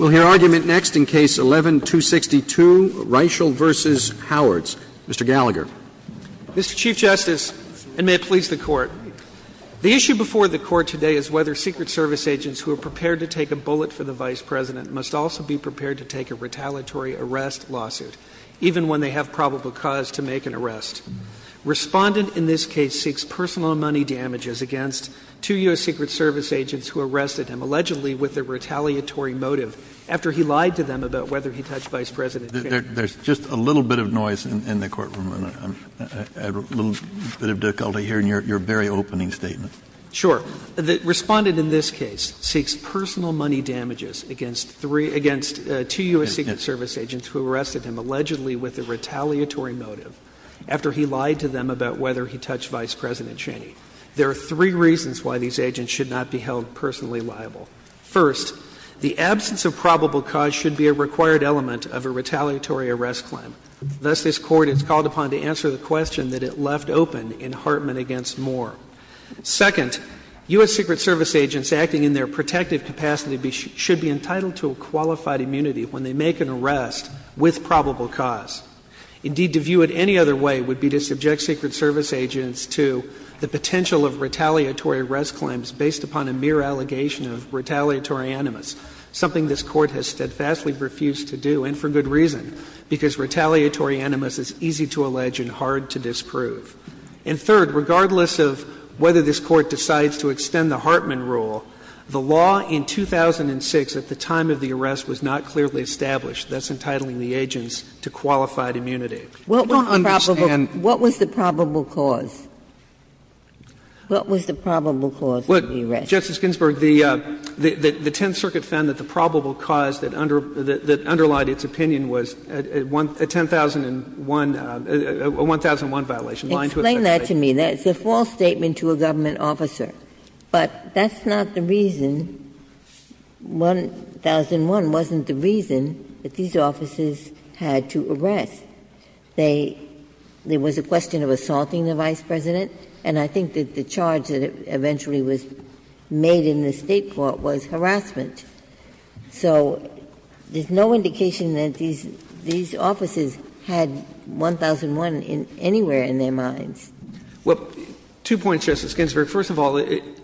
Mr. Gallagher. Mr. Chief Justice, and may it please the Court, the issue before the Court today is whether Secret Service agents who are prepared to take a bullet for the Vice President must also be prepared to take a retaliatory arrest lawsuit, even when they have probable cause to make an arrest. Respondent in this case seeks personal money damages against two U.S. Secret Service agents who arrested the Vice President in the United States who arrested him, allegedly with a retaliatory motive, after he lied to them about whether he touched Vice President Cheney. Kennedy There's just a little bit of noise in the courtroom, and I have a little bit of difficulty hearing your very opening statement. Mr. Hallward Sure. Respondent in this case seeks personal money damages against three — against two U.S. Secret Service agents who arrested him, allegedly with a retaliatory motive, after he lied to them about whether he touched Vice President Cheney. There are three reasons why these agents should not be held personally liable. First, the absence of probable cause should be a required element of a retaliatory arrest claim. Thus, this Court is called upon to answer the question that it left open in Hartman v. Moore. Second, U.S. Secret Service agents acting in their protective capacity should be entitled to a qualified immunity when they make an arrest with probable cause. Indeed, to view it any other way would be to subject Secret Service agents to the potential of retaliatory arrest claims based upon a mere allegation of retaliatory animus, something this Court has steadfastly refused to do, and for good reason, because retaliatory animus is easy to allege and hard to disprove. And third, regardless of whether this Court decides to extend the Hartman rule, the law in 2006 at the time of the arrest was not clearly established. That's entitling the agents to qualified immunity. We don't understand. What was the probable cause? What was the probable cause of the arrest? Look, Justice Ginsburg, the Tenth Circuit found that the probable cause that under underlied its opinion was a 1001 violation, lying to a sex offender. Explain that to me. That's a false statement to a government officer. But that's not the reason, 1001 wasn't the reason that these officers had to arrest. They — there was a question of assaulting the Vice President, and I think that the charge that eventually was made in the State court was harassment. So there's no indication that these — these officers had 1001 anywhere in their minds. Well, two points, Justice Ginsburg. First of all,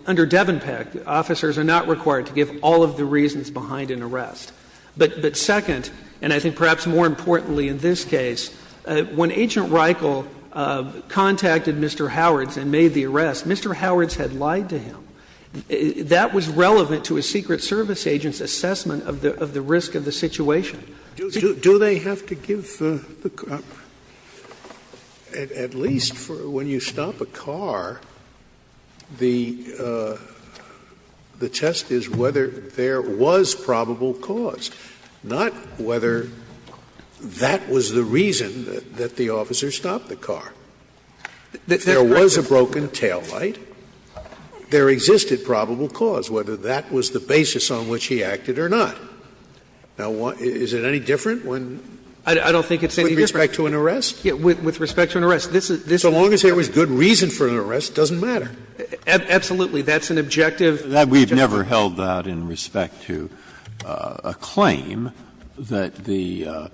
under Devenpeck, officers are not required to give all of the reasons behind an arrest. But second, and I think perhaps more importantly in this case, when Agent Reichel contacted Mr. Howards and made the arrest, Mr. Howards had lied to him. That was relevant to a Secret Service agent's assessment of the risk of the situation. Do they have to give the — at least for when you stop a car, the test is whether there was probable cause, not whether that was the reason that the officer stopped the car. If there was a broken taillight, there existed probable cause, whether that was the basis on which he acted or not. Now, is it any different when — I don't think it's any different. With respect to an arrest? With respect to an arrest. This is — this is the case. So long as there was good reason for an arrest, it doesn't matter. Absolutely. That's an objective. We've never held that in respect to a claim that the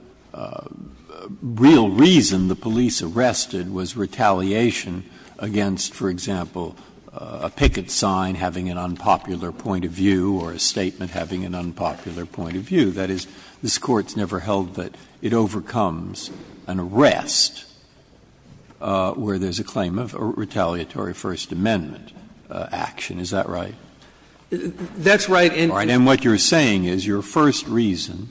real reason the police arrested was retaliation against, for example, a picket sign having an unpopular point of view or a statement having an unpopular point of view. That is, this Court's never held that it overcomes an arrest where there's a claim of retaliatory First Amendment action. Is that right? That's right. And what you're saying is your first reason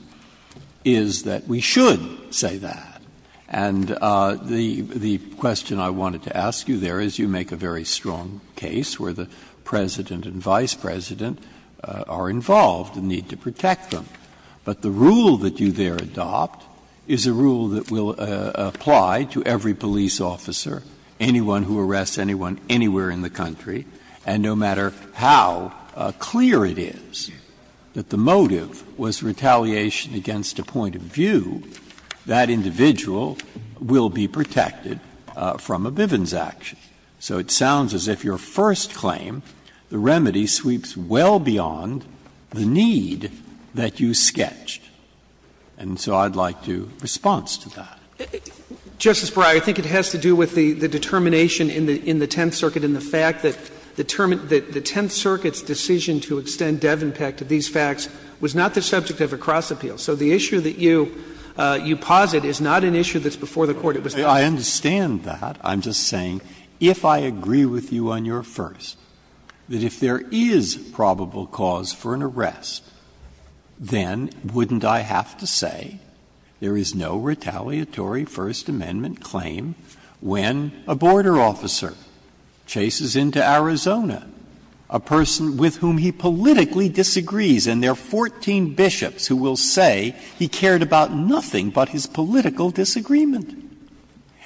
is that we should say that. And the question I wanted to ask you there is you make a very strong case where the President and Vice President are involved and need to protect them. But the rule that you there adopt is a rule that will apply to every police officer, anyone who arrests anyone anywhere in the country. And no matter how clear it is that the motive was retaliation against a point of view, that individual will be protected from a Bivens action. So it sounds as if your first claim, the remedy sweeps well beyond the need that you sketched. And so I'd like to response to that. Justice Breyer, I think it has to do with the determination in the Tenth Circuit and the fact that the Tenth Circuit's decision to extend Devon Peck to these facts was not the subject of a cross-appeal. So the issue that you posit is not an issue that's before the Court. It was not a cross-appeal. I understand that. I'm just saying, if I agree with you on your first, that if there is probable cause for an arrest, then wouldn't I have to say there is no retaliatory First Amendment claim when a border officer chases into Arizona a person with whom he politically disagrees, and there are 14 bishops who will say he cared about nothing but his political disagreement.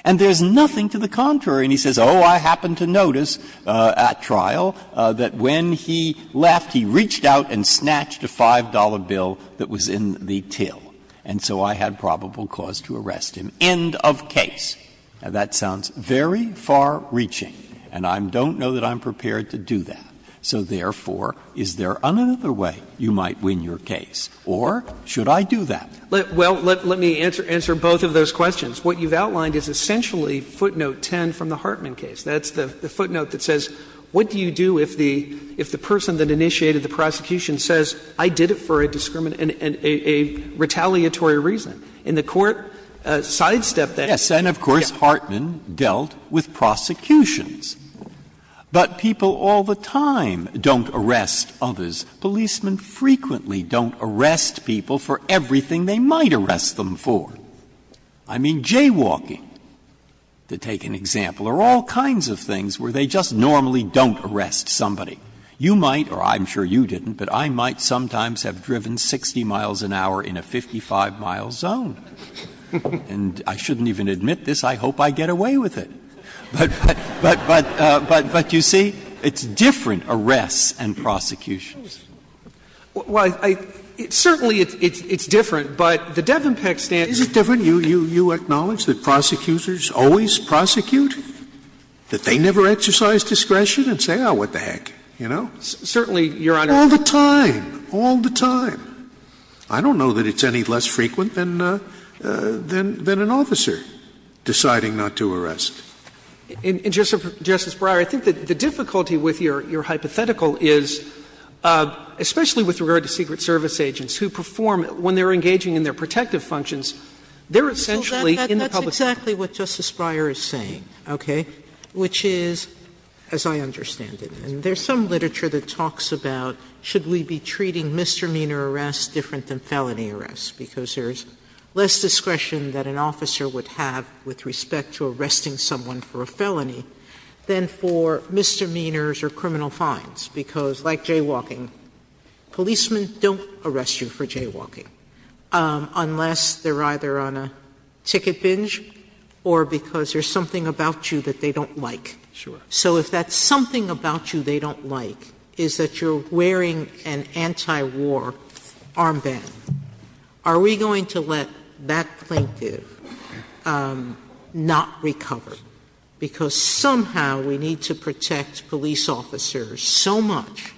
And there's nothing to the contrary. And he says, oh, I happened to notice at trial that when he left, he reached out and snatched a $5 bill that was in the till, and so I had probable cause to arrest him. End of case. Now, that sounds very far-reaching, and I don't know that I'm prepared to do that. So therefore, is there another way you might win your case, or should I do that? Well, let me answer both of those questions. What you've outlined is essentially footnote 10 from the Hartman case. That's the footnote that says, what do you do if the person that initiated the prosecution says, I did it for a retaliatory reason? And the Court sidestepped that. Yes. And of course, Hartman dealt with prosecutions. But people all the time don't arrest others. Policemen frequently don't arrest people for everything they might arrest them for. I mean, jaywalking, to take an example, are all kinds of things where they just normally don't arrest somebody. You might, or I'm sure you didn't, but I might sometimes have driven 60 miles an hour in a 55-mile zone. And I shouldn't even admit this. I hope I get away with it. But you see, it's different arrests and prosecutions. Well, I — certainly it's different, but the Devon Peck statute — Is it different? You acknowledge that prosecutors always prosecute? That they never exercise discretion and say, oh, what the heck, you know? Certainly, Your Honor. All the time, all the time. I don't know that it's any less frequent than an officer deciding not to arrest. In Justice Breyer, I think that the difficulty with your hypothetical is, especially with regard to Secret Service agents who perform, when they're engaging in their protective functions, they're essentially in the public sphere. That's exactly what Justice Breyer is saying, okay, which is, as I understand it, and there's some literature that talks about should we be treating misdemeanor arrests different than felony arrests, because there's less discretion that an officer would have with respect to arresting someone for a felony, than for misdemeanors or criminal fines, because, like jaywalking, policemen don't arrest you for jaywalking unless they're either on a ticket binge or because there's something about you that they don't like. Sure. So if that's something about you they don't like, is that you're wearing an anti-war armband, are we going to let that plaintiff not recover? Because somehow we need to protect police officers so much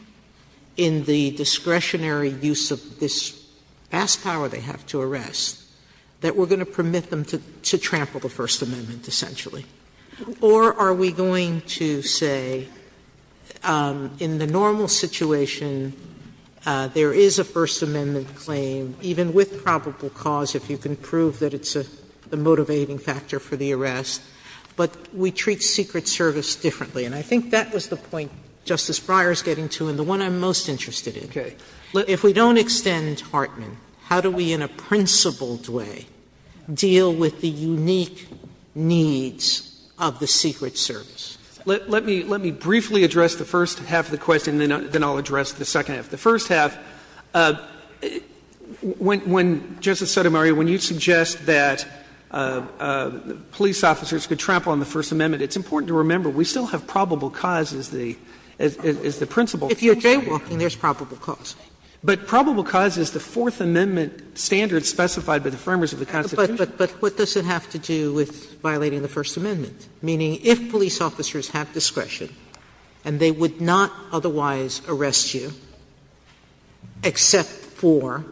in the discretionary use of this vast power they have to arrest that we're going to permit them to trample the First Amendment, essentially. Or are we going to say, in the normal situation, there is a First Amendment claim, even with probable cause, if you can prove that it's a motivating factor for the arrest, but we treat Secret Service differently? And I think that was the point Justice Breyer is getting to and the one I'm most interested in. If we don't extend Hartman, how do we, in a principled way, deal with the unique needs of the Secret Service? Let me briefly address the first half of the question, then I'll address the second half. The first half, when Justice Sotomayor, when you suggest that police officers could trample on the First Amendment, it's important to remember we still have probable cause as the principle. If you're jaywalking, there's probable cause. But probable cause is the Fourth Amendment standards specified by the framers of the Constitution. But what does it have to do with violating the First Amendment? Meaning, if police officers have discretion and they would not otherwise arrest you, except for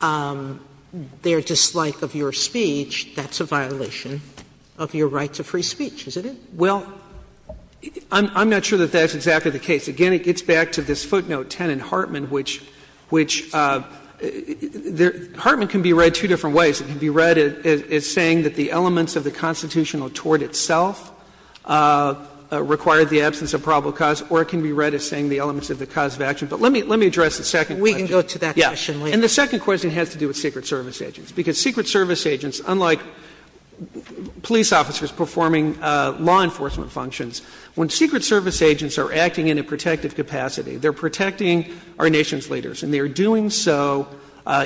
their dislike of your speech, that's a violation of your right to free speech, isn't it? Well, I'm not sure that that's exactly the case. Again, it gets back to this footnote 10 in Hartman, which Hartman can be read two different ways. It can be read as saying that the elements of the constitutional tort itself require the absence of probable cause, or it can be read as saying the elements of the cause of action. But let me address the second question. Sotomayor, we can go to that question later. And the second question has to do with Secret Service agents, because Secret Service agents, unlike police officers performing law enforcement functions, when Secret Service agents are acting in a protective capacity, they're protecting our nation's leaders, and they are doing so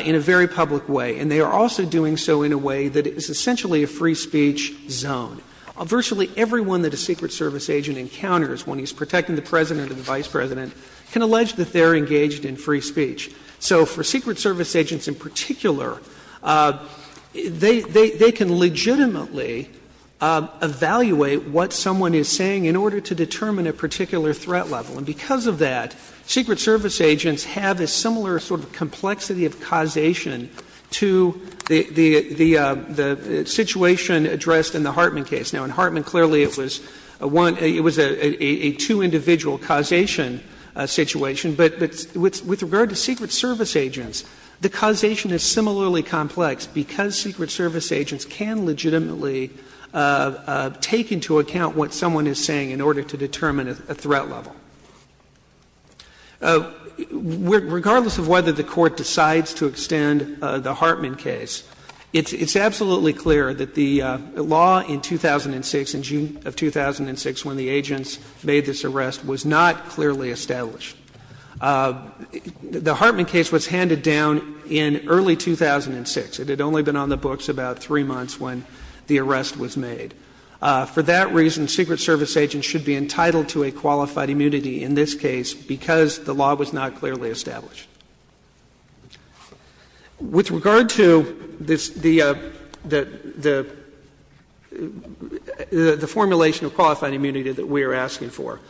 in a very public way. And they are also doing so in a way that is essentially a free speech zone. Virtually everyone that a Secret Service agent encounters when he's protecting the President and the Vice President can allege that they're engaged in free speech. So for Secret Service agents in particular, they can legitimately evaluate what someone is saying in order to determine a particular threat level. And because of that, Secret Service agents have a similar sort of complexity of causation to the situation addressed in the Hartman case. Now, in Hartman, clearly it was a one — it was a two-individual causation situation. But with regard to Secret Service agents, the causation is similarly complex, because Secret Service agents can legitimately take into account what someone is saying in order to determine a threat level. Regardless of whether the Court decides to extend the Hartman case, it's absolutely clear that the law in 2006, in June of 2006, when the agents made this arrest, was not clearly established. The Hartman case was handed down in early 2006. It had only been on the books about three months when the arrest was made. For that reason, Secret Service agents should be entitled to a qualified immunity in this case because the law was not clearly established. With regard to this — the formulation of qualified immunity that we are asking for,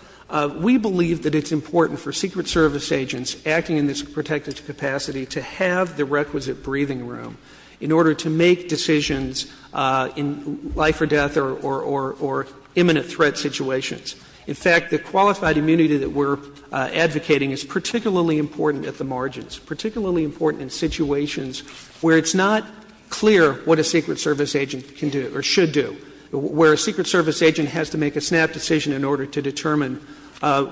we believe that it's important for Secret Service agents acting in this protected capacity to have the requisite breathing room in order to make decisions in life or death or imminent threat situations. In fact, the qualified immunity that we're advocating is particularly important at the margins, particularly important in situations where it's not clear what a Secret Service agent can do or should do, where a Secret Service agent has to make a snap decision in order to determine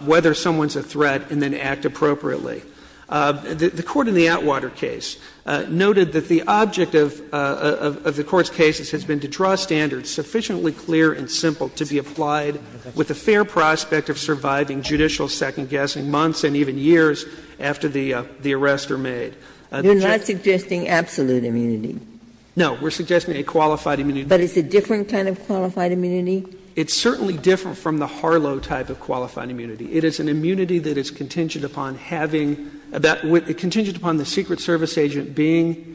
whether someone is a threat and then act appropriately. The Court in the Atwater case noted that the object of the Court's cases has been to draw standards sufficiently clear and simple to be applied with a fair prospect of surviving judicial second-guessing months and even years after the arrest are made. You're not suggesting absolute immunity? No. We're suggesting a qualified immunity. But it's a different kind of qualified immunity? It's certainly different from the Harlow type of qualified immunity. It is an immunity that is contingent upon having — contingent upon the Secret Service agent's decision to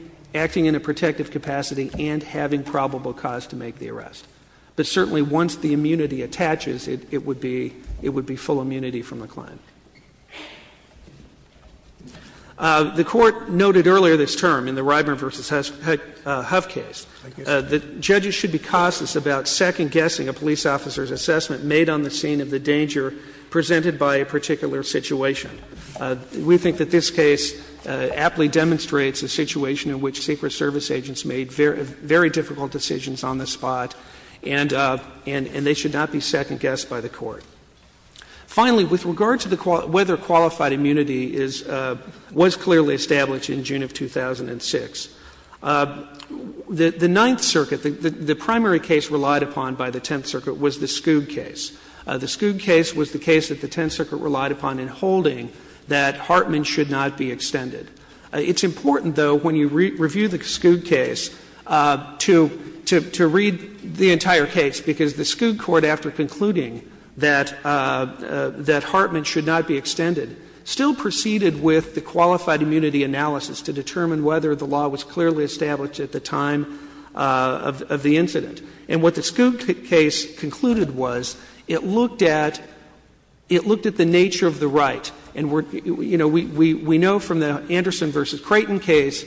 make the arrest. But certainly once the immunity attaches, it would be — it would be full immunity from reclaim. The Court noted earlier this term in the Ryburn v. Huff case that judges should be cautious about second-guessing a police officer's assessment made on the scene of the danger presented by a particular situation. We think that this case aptly demonstrates a situation in which Secret Service agents made very difficult decisions on the spot, and they should not be second-guessed by the Court. Finally, with regard to the — whether qualified immunity is — was clearly established in June of 2006, the Ninth Circuit, the primary case relied upon by the Tenth Circuit was the Skoug case. The Skoug case was the case that the Tenth Circuit relied upon in holding that Hartman should not be extended. It's important, though, when you review the Skoug case, to — to read the entire case, because the Skoug court, after concluding that — that Hartman should not be extended, still proceeded with the qualified immunity analysis to determine whether the law was clearly established at the time of the incident. And what the Skoug case concluded was it looked at — it looked at the nature of the right. And we're — you know, we know from the Anderson v. Creighton case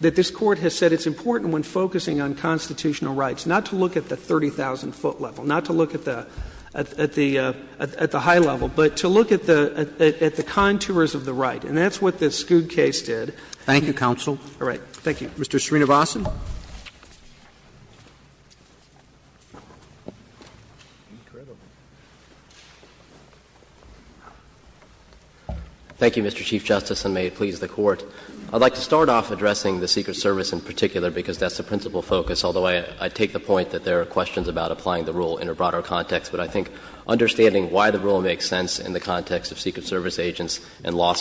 that this Court has said it's important when focusing on constitutional rights not to look at the 30,000-foot level, not to look at the — at the — at the high level, but to look at the — at the contours of the right. And that's what the Skoug case did. Roberts. Thank you, counsel. All right. Thank you. Mr. Srinivasan. Thank you, Mr. Chief Justice, and may it please the Court. I'd like to start off addressing the Secret Service in particular, because that's the principal focus, although I take the point that there are questions about applying the rule in a broader context. But I think understanding why the rule makes sense in the context of Secret Service agents and law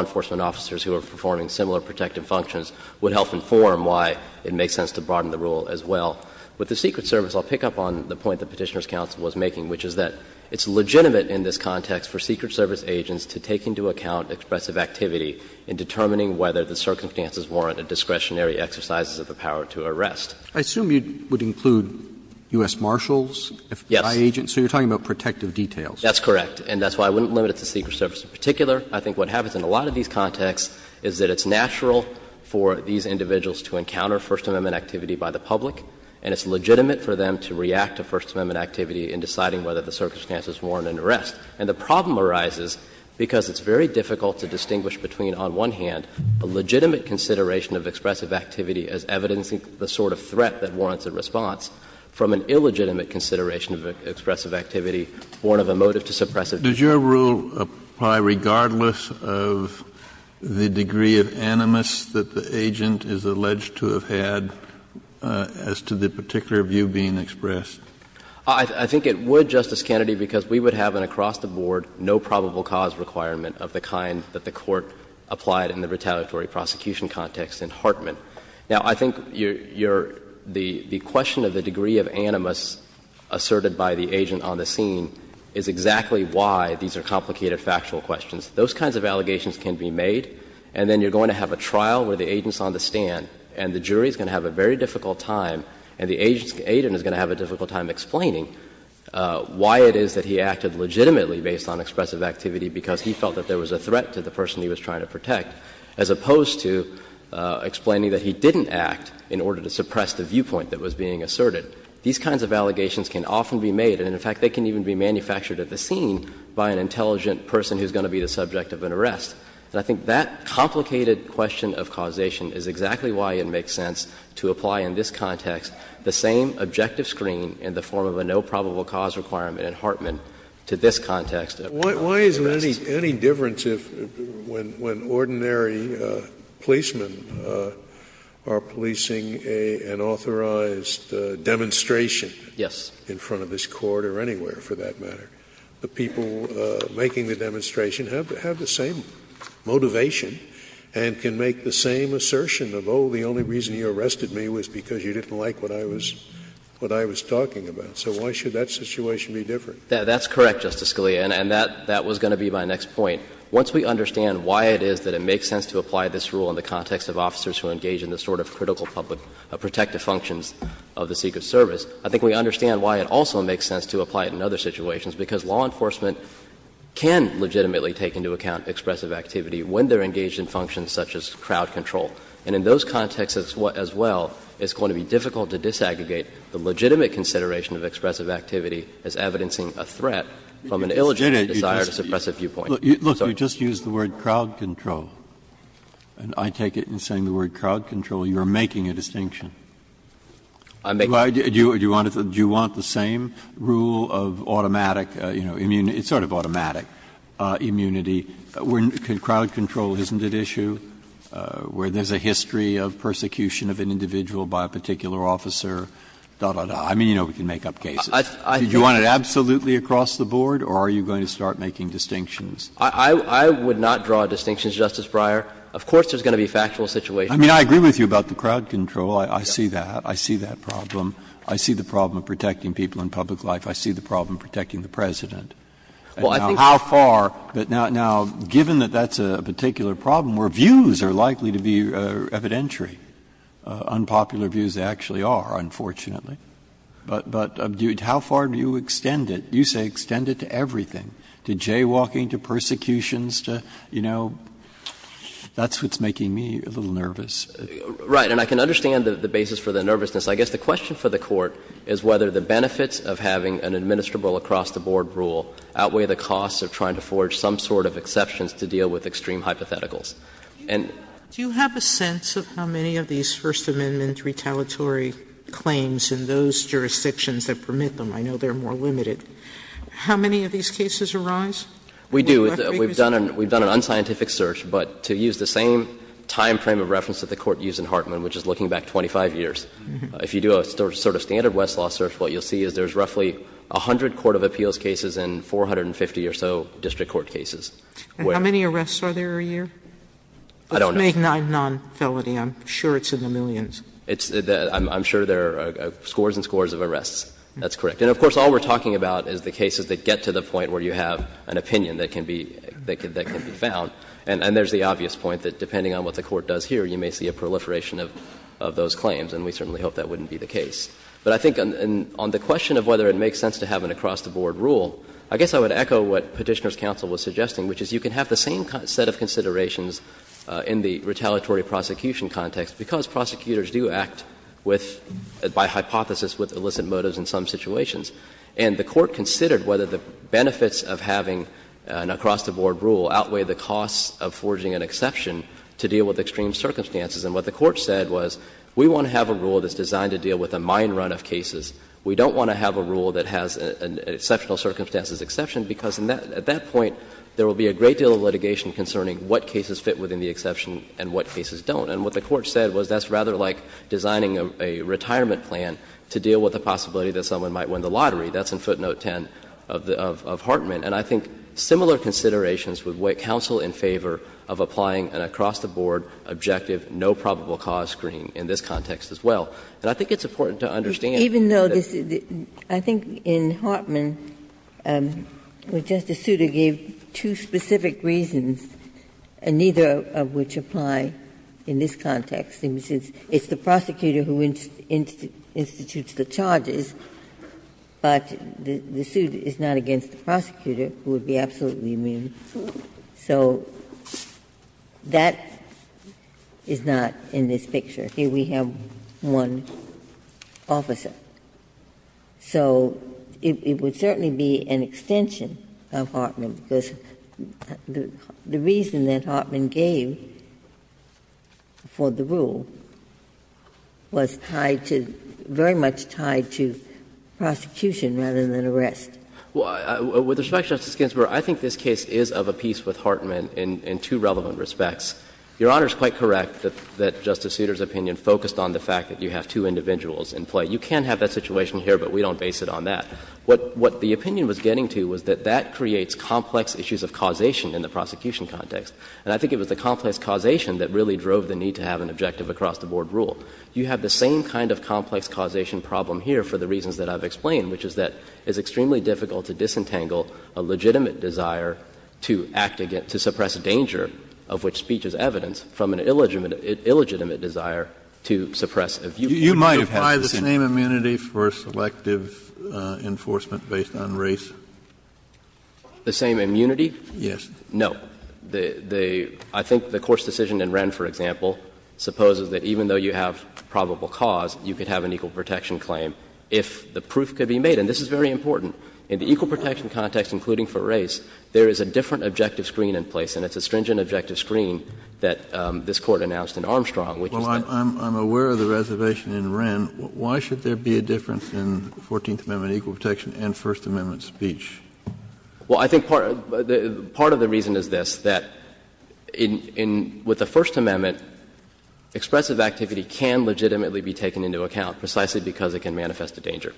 enforcement officers who are performing similar protective functions would help inform why it makes sense to broaden the rule as well. With the Secret Service, I'll pick up on the point the Petitioner's counsel was making, which is that it's legitimate in this context for Secret Service agents to take into account expressive activity in determining whether the circumstances warrant a discretionary exercise of the power to arrest. I assume you would include U.S. Marshals if they're agents. Yes. So you're talking about protective details. That's correct. And that's why I wouldn't limit it to Secret Service in particular. I think what happens in a lot of these contexts is that it's natural for these individuals to encounter First Amendment activity by the public, and it's legitimate for them to react to First Amendment activity in deciding whether the circumstances warrant an arrest. And the problem arises because it's very difficult to distinguish between, on one hand, a legitimate consideration of expressive activity as evidencing the sort of threat that warrants a response, from an illegitimate consideration of expressive activity born of a motive to suppress it. Does your rule apply regardless of the degree of animus that the agent is alleged to have had as to the particular view being expressed? I think it would, Justice Kennedy, because we would have an across-the-board, no probable cause requirement of the kind that the Court applied in the retaliatory prosecution context in Hartman. Now, I think your — the question of the degree of animus asserted by the agent on the scene is exactly why these are complicated factual questions. Those kinds of allegations can be made, and then you're going to have a trial where the agent's on the stand, and the jury is going to have a very difficult time, and the agent is going to have a difficult time explaining why it is that he acted legitimately based on expressive activity, because he felt that there was a threat to the person he was trying to protect, as opposed to explaining that he didn't act in order to suppress the viewpoint that was being asserted. These kinds of allegations can often be made, and in fact, they can even be manufactured at the scene by an intelligent person who is going to be the subject of an arrest. And I think that complicated question of causation is exactly why it makes sense to apply in this context the same objective screen in the form of a no probable Scalia. Scalia. Why is there any difference if — when ordinary policemen are policing an authorized demonstration in front of this Court, or anywhere, for that matter, the people making the demonstration have the same motivation and can make the same assertion of, oh, the only reason you arrested me was because you didn't like what I was — what I was talking about. So why should that situation be different? That's correct, Justice Scalia, and that was going to be my next point. Once we understand why it is that it makes sense to apply this rule in the context of officers who engage in the sort of critical public protective functions of the Secret Service, I think we understand why it also makes sense to apply it in other situations, because law enforcement can legitimately take into account expressive activity when they're engaged in functions such as crowd control. And in those contexts as well, it's going to be difficult to disaggregate the legitimate consideration of expressive activity as evidencing a threat from an illegitimate desire to suppress a viewpoint. Breyer. Look, you just used the word crowd control, and I take it in saying the word crowd control, you are making a distinction. I'm making a distinction. Do you want the same rule of automatic, you know, immunity — sort of automatic immunity where crowd control isn't at issue, where there's a history of persecution of an individual by a particular officer, da, da, da. I mean, you know we can make up cases. Do you want it absolutely across the board, or are you going to start making distinctions? I would not draw distinctions, Justice Breyer. Of course there's going to be factual situations. I mean, I agree with you about the crowd control. I see that. I see that problem. I see the problem of protecting people in public life. I see the problem of protecting the President. How far — but now, given that that's a particular problem where views are likely to be evidentiary. Unpopular views actually are, unfortunately. But how far do you extend it? You say extend it to everything, to jaywalking, to persecutions, to, you know, that's what's making me a little nervous. Right. And I can understand the basis for the nervousness. I guess the question for the Court is whether the benefits of having an administrable across-the-board rule outweigh the costs of trying to forge some sort of exceptions to deal with extreme hypotheticals. And — Sotomayor, do you have a sense of how many of these First Amendment retaliatory claims in those jurisdictions that permit them? I know they're more limited. How many of these cases arise? We do. We've done an unscientific search, but to use the same time frame of reference that the Court used in Hartman, which is looking back 25 years, if you do a sort of standard Westlaw search, what you'll see is there's roughly 100 court of appeals cases and 450 or so district court cases. And how many arrests are there a year? I don't know. Let's make 9 non-felony. I'm sure it's in the millions. It's — I'm sure there are scores and scores of arrests. That's correct. And of course, all we're talking about is the cases that get to the point where you have an opinion that can be found. And there's the obvious point that depending on what the Court does here, you may see a proliferation of those claims, and we certainly hope that wouldn't be the case. But I think on the question of whether it makes sense to have an across-the-board rule, I guess I would echo what Petitioner's counsel was suggesting, which is you can have the same set of considerations in the retaliatory prosecution context because prosecutors do act with, by hypothesis, with illicit motives in some situations. And the Court considered whether the benefits of having an across-the-board rule outweigh the costs of forging an exception to deal with extreme circumstances. And what the Court said was we want to have a rule that's designed to deal with a mine run of cases. We don't want to have a rule that has an exceptional circumstances exception because, at that point, there will be a great deal of litigation concerning what cases fit within the exception and what cases don't. And what the Court said was that's rather like designing a retirement plan to deal with the possibility that someone might win the lottery. That's in footnote 10 of Hartman. And I think similar considerations would weigh counsel in favor of applying an across-the-board objective, no probable cause screen in this context as well. And I think it's important to understand that this is a case that's going to be a litigation decision. Ginsburg-Miller. Well, Justice Souter gave two specific reasons, and neither of which apply in this context. It's the prosecutor who institutes the charges, but the suit is not against the prosecutor who would be absolutely immune. So that is not in this picture. Here we have one officer. So it would certainly be an extension of Hartman, because the reason that Hartman gave for the rule was tied to — very much tied to prosecution rather than arrest. Well, with respect, Justice Ginsburg, I think this case is of a piece with Hartman in two relevant respects. Your Honor is quite correct that Justice Souter's opinion focused on the fact that you have two individuals in play. You can have that situation here, but we don't base it on that. What the opinion was getting to was that that creates complex issues of causation in the prosecution context. And I think it was the complex causation that really drove the need to have an objective across-the-board rule. You have the same kind of complex causation problem here for the reasons that I've explained, which is that it's extremely difficult to disentangle a legitimate desire to act against — to suppress a danger of which speech is evidence from an illegitimate — illegitimate desire to suppress a viewpoint. Kennedy, you might have had this in your mind. So is the same immunity for selective enforcement based on race? The same immunity? Yes. No. The — the — I think the Course decision in Wren, for example, supposes that even though you have probable cause, you could have an equal protection claim if the proof could be made. And this is very important. In the equal protection context, including for race, there is a different objective screen in place, and it's a stringent objective screen that this Court announced in Armstrong, which is the — I'm — I'm aware of the reservation in Wren. Why should there be a difference in Fourteenth Amendment equal protection and First Amendment speech? Well, I think part — part of the reason is this, that in — in — with the First Amendment, expressive activity can legitimately be taken into account precisely because it can manifest a danger,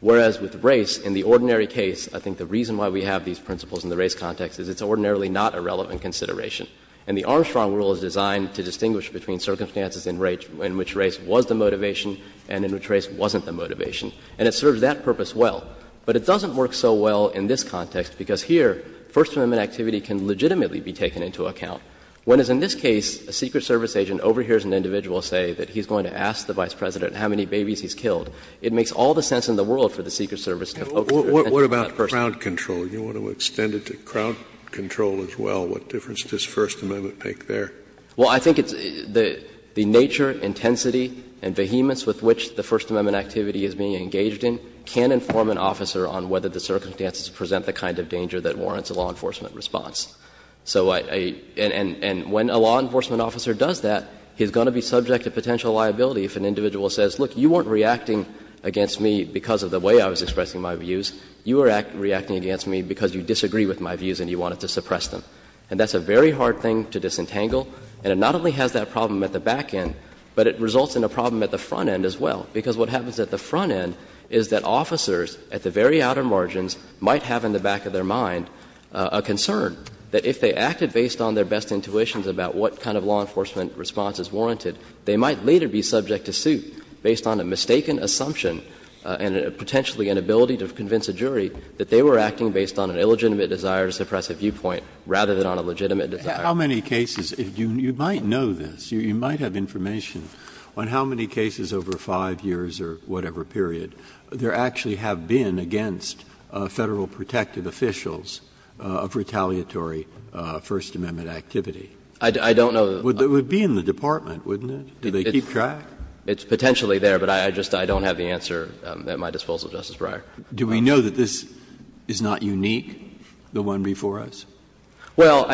whereas with race, in the ordinary case, I think the reason why we have these principles in the race context is it's ordinarily not a relevant consideration. And the Armstrong rule is designed to distinguish between circumstances in which race was the motivation and in which race wasn't the motivation. And it serves that purpose well. But it doesn't work so well in this context, because here First Amendment activity can legitimately be taken into account. When, as in this case, a Secret Service agent overhears an individual say that he's going to ask the Vice President how many babies he's killed, it makes all the sense in the world for the Secret Service to focus their attention on that person. Scalia, you want to extend it to crowd control as well, what difference does First Amendment make there? Well, I think it's the — the nature, intensity, and vehemence with which the First Amendment activity is being engaged in can inform an officer on whether the circumstances present the kind of danger that warrants a law enforcement response. So I — and when a law enforcement officer does that, he's going to be subject to potential liability if an individual says, look, you weren't reacting against me because of the way I was expressing my views, you were reacting against me because you disagree with my views and you wanted to suppress them. And that's a very hard thing to disentangle, and it not only has that problem at the back end, but it results in a problem at the front end as well. Because what happens at the front end is that officers at the very outer margins might have in the back of their mind a concern that if they acted based on their best intuitions about what kind of law enforcement response is warranted, they might later be subject to suit based on a mistaken assumption and potentially an ability to convince a jury that they were acting based on an illegitimate desire to suppress a viewpoint rather than on a legitimate desire. Breyer. How many cases — you might know this, you might have information on how many cases over 5 years or whatever period there actually have been against Federal protective officials of retaliatory First Amendment activity? I don't know. It would be in the department, wouldn't it? Do they keep track? It's potentially there, but I just don't have the answer at my disposal, Justice Breyer. Do we know that this is not unique, the one before us? Well,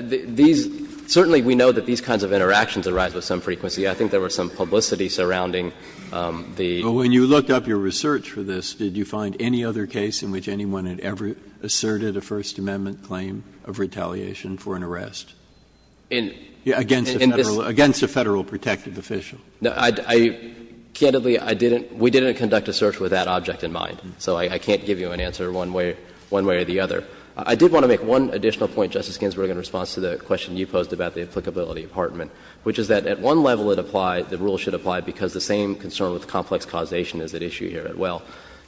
these — certainly we know that these kinds of interactions arise with some frequency. I think there was some publicity surrounding the — But when you looked up your research for this, did you find any other case in which anyone had ever asserted a First Amendment claim of retaliation for an arrest? Against a Federal protective official. No. I — candidly, I didn't — we didn't conduct a search with that object in mind. So I can't give you an answer one way or the other. I did want to make one additional point, Justice Ginsburg, in response to the question you posed about the applicability of Hartman, which is that at one level it applied — the rule should apply because the same concern with complex causation is at issue here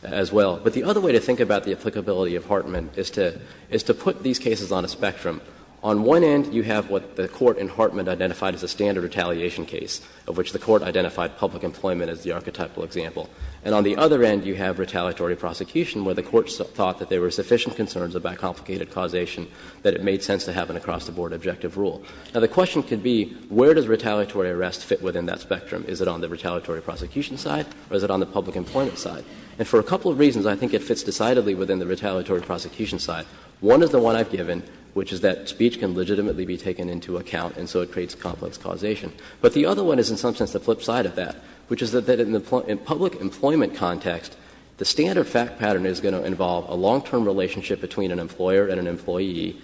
as well. But the other way to think about the applicability of Hartman is to put these cases on a spectrum. On one end, you have what the Court in Hartman identified as a standard retaliation case, of which the Court identified public employment as the archetypal example. And on the other end, you have retaliatory prosecution, where the Court thought that there were sufficient concerns about complicated causation, that it made sense to have an across-the-board objective rule. Now, the question could be, where does retaliatory arrest fit within that spectrum? Is it on the retaliatory prosecution side or is it on the public employment side? And for a couple of reasons, I think it fits decidedly within the retaliatory prosecution side. One is the one I've given, which is that speech can legitimately be taken into account and so it creates complex causation. But the other one is, in some sense, the flip side of that, which is that in the public employment context, the standard fact pattern is going to involve a long-term relationship between an employer and an employee,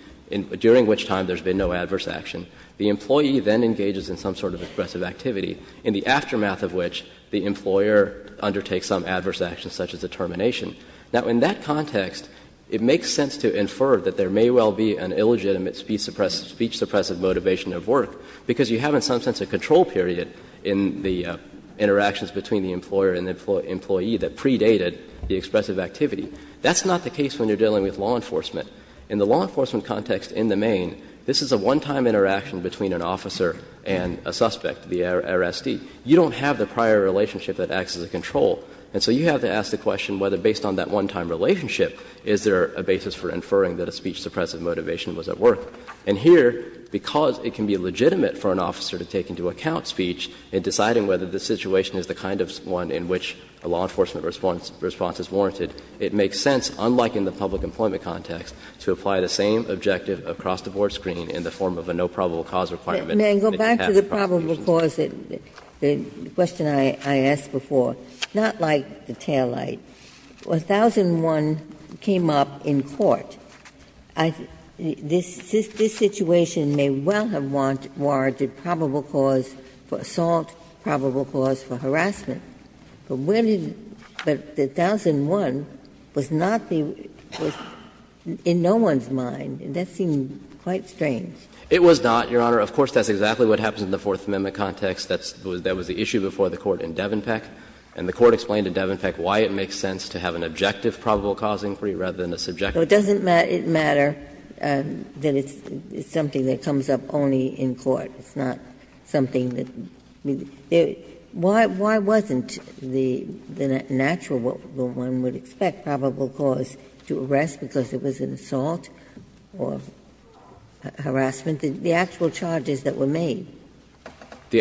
during which time there's been no adverse action. The employee then engages in some sort of aggressive activity, in the aftermath of which the employer undertakes some adverse action, such as a termination. Now, in that context, it makes sense to infer that there may well be an illegitimate speech-suppressive motivation at work, because you have, in some sense, a control period in the interactions between the employer and the employee that predated the expressive activity. That's not the case when you're dealing with law enforcement. In the law enforcement context in the main, this is a one-time interaction between an officer and a suspect, the arrestee. You don't have the prior relationship that acts as a control, and so you have to ask the question whether, based on that one-time relationship, is there a basis for inferring that a speech-suppressive motivation was at work. And here, because it can be legitimate for an officer to take into account speech in deciding whether the situation is the kind of one in which a law enforcement response is warranted, it makes sense, unlike in the public employment context, to apply the same objective across the board screen in the form of a no probable cause requirement. Ginsburg. May I go back to the probable cause, the question I asked before? Not like the taillight, when 1001 came up in court, this situation may well have warranted probable cause for assault, probable cause for harassment. But when did the 1001 was not the one in no one's mind. That seemed quite strange. It was not, Your Honor. Of course, that's exactly what happens in the Fourth Amendment context. That was the issue before the Court in Devenpeck. And the Court explained in Devenpeck why it makes sense to have an objective probable cause inquiry rather than a subjective. Ginsburg. So it doesn't matter that it's something that comes up only in court. It's not something that, I mean, why wasn't the natural, what one would expect, probable cause to arrest because it was an assault or harassment, the actual charges that were made?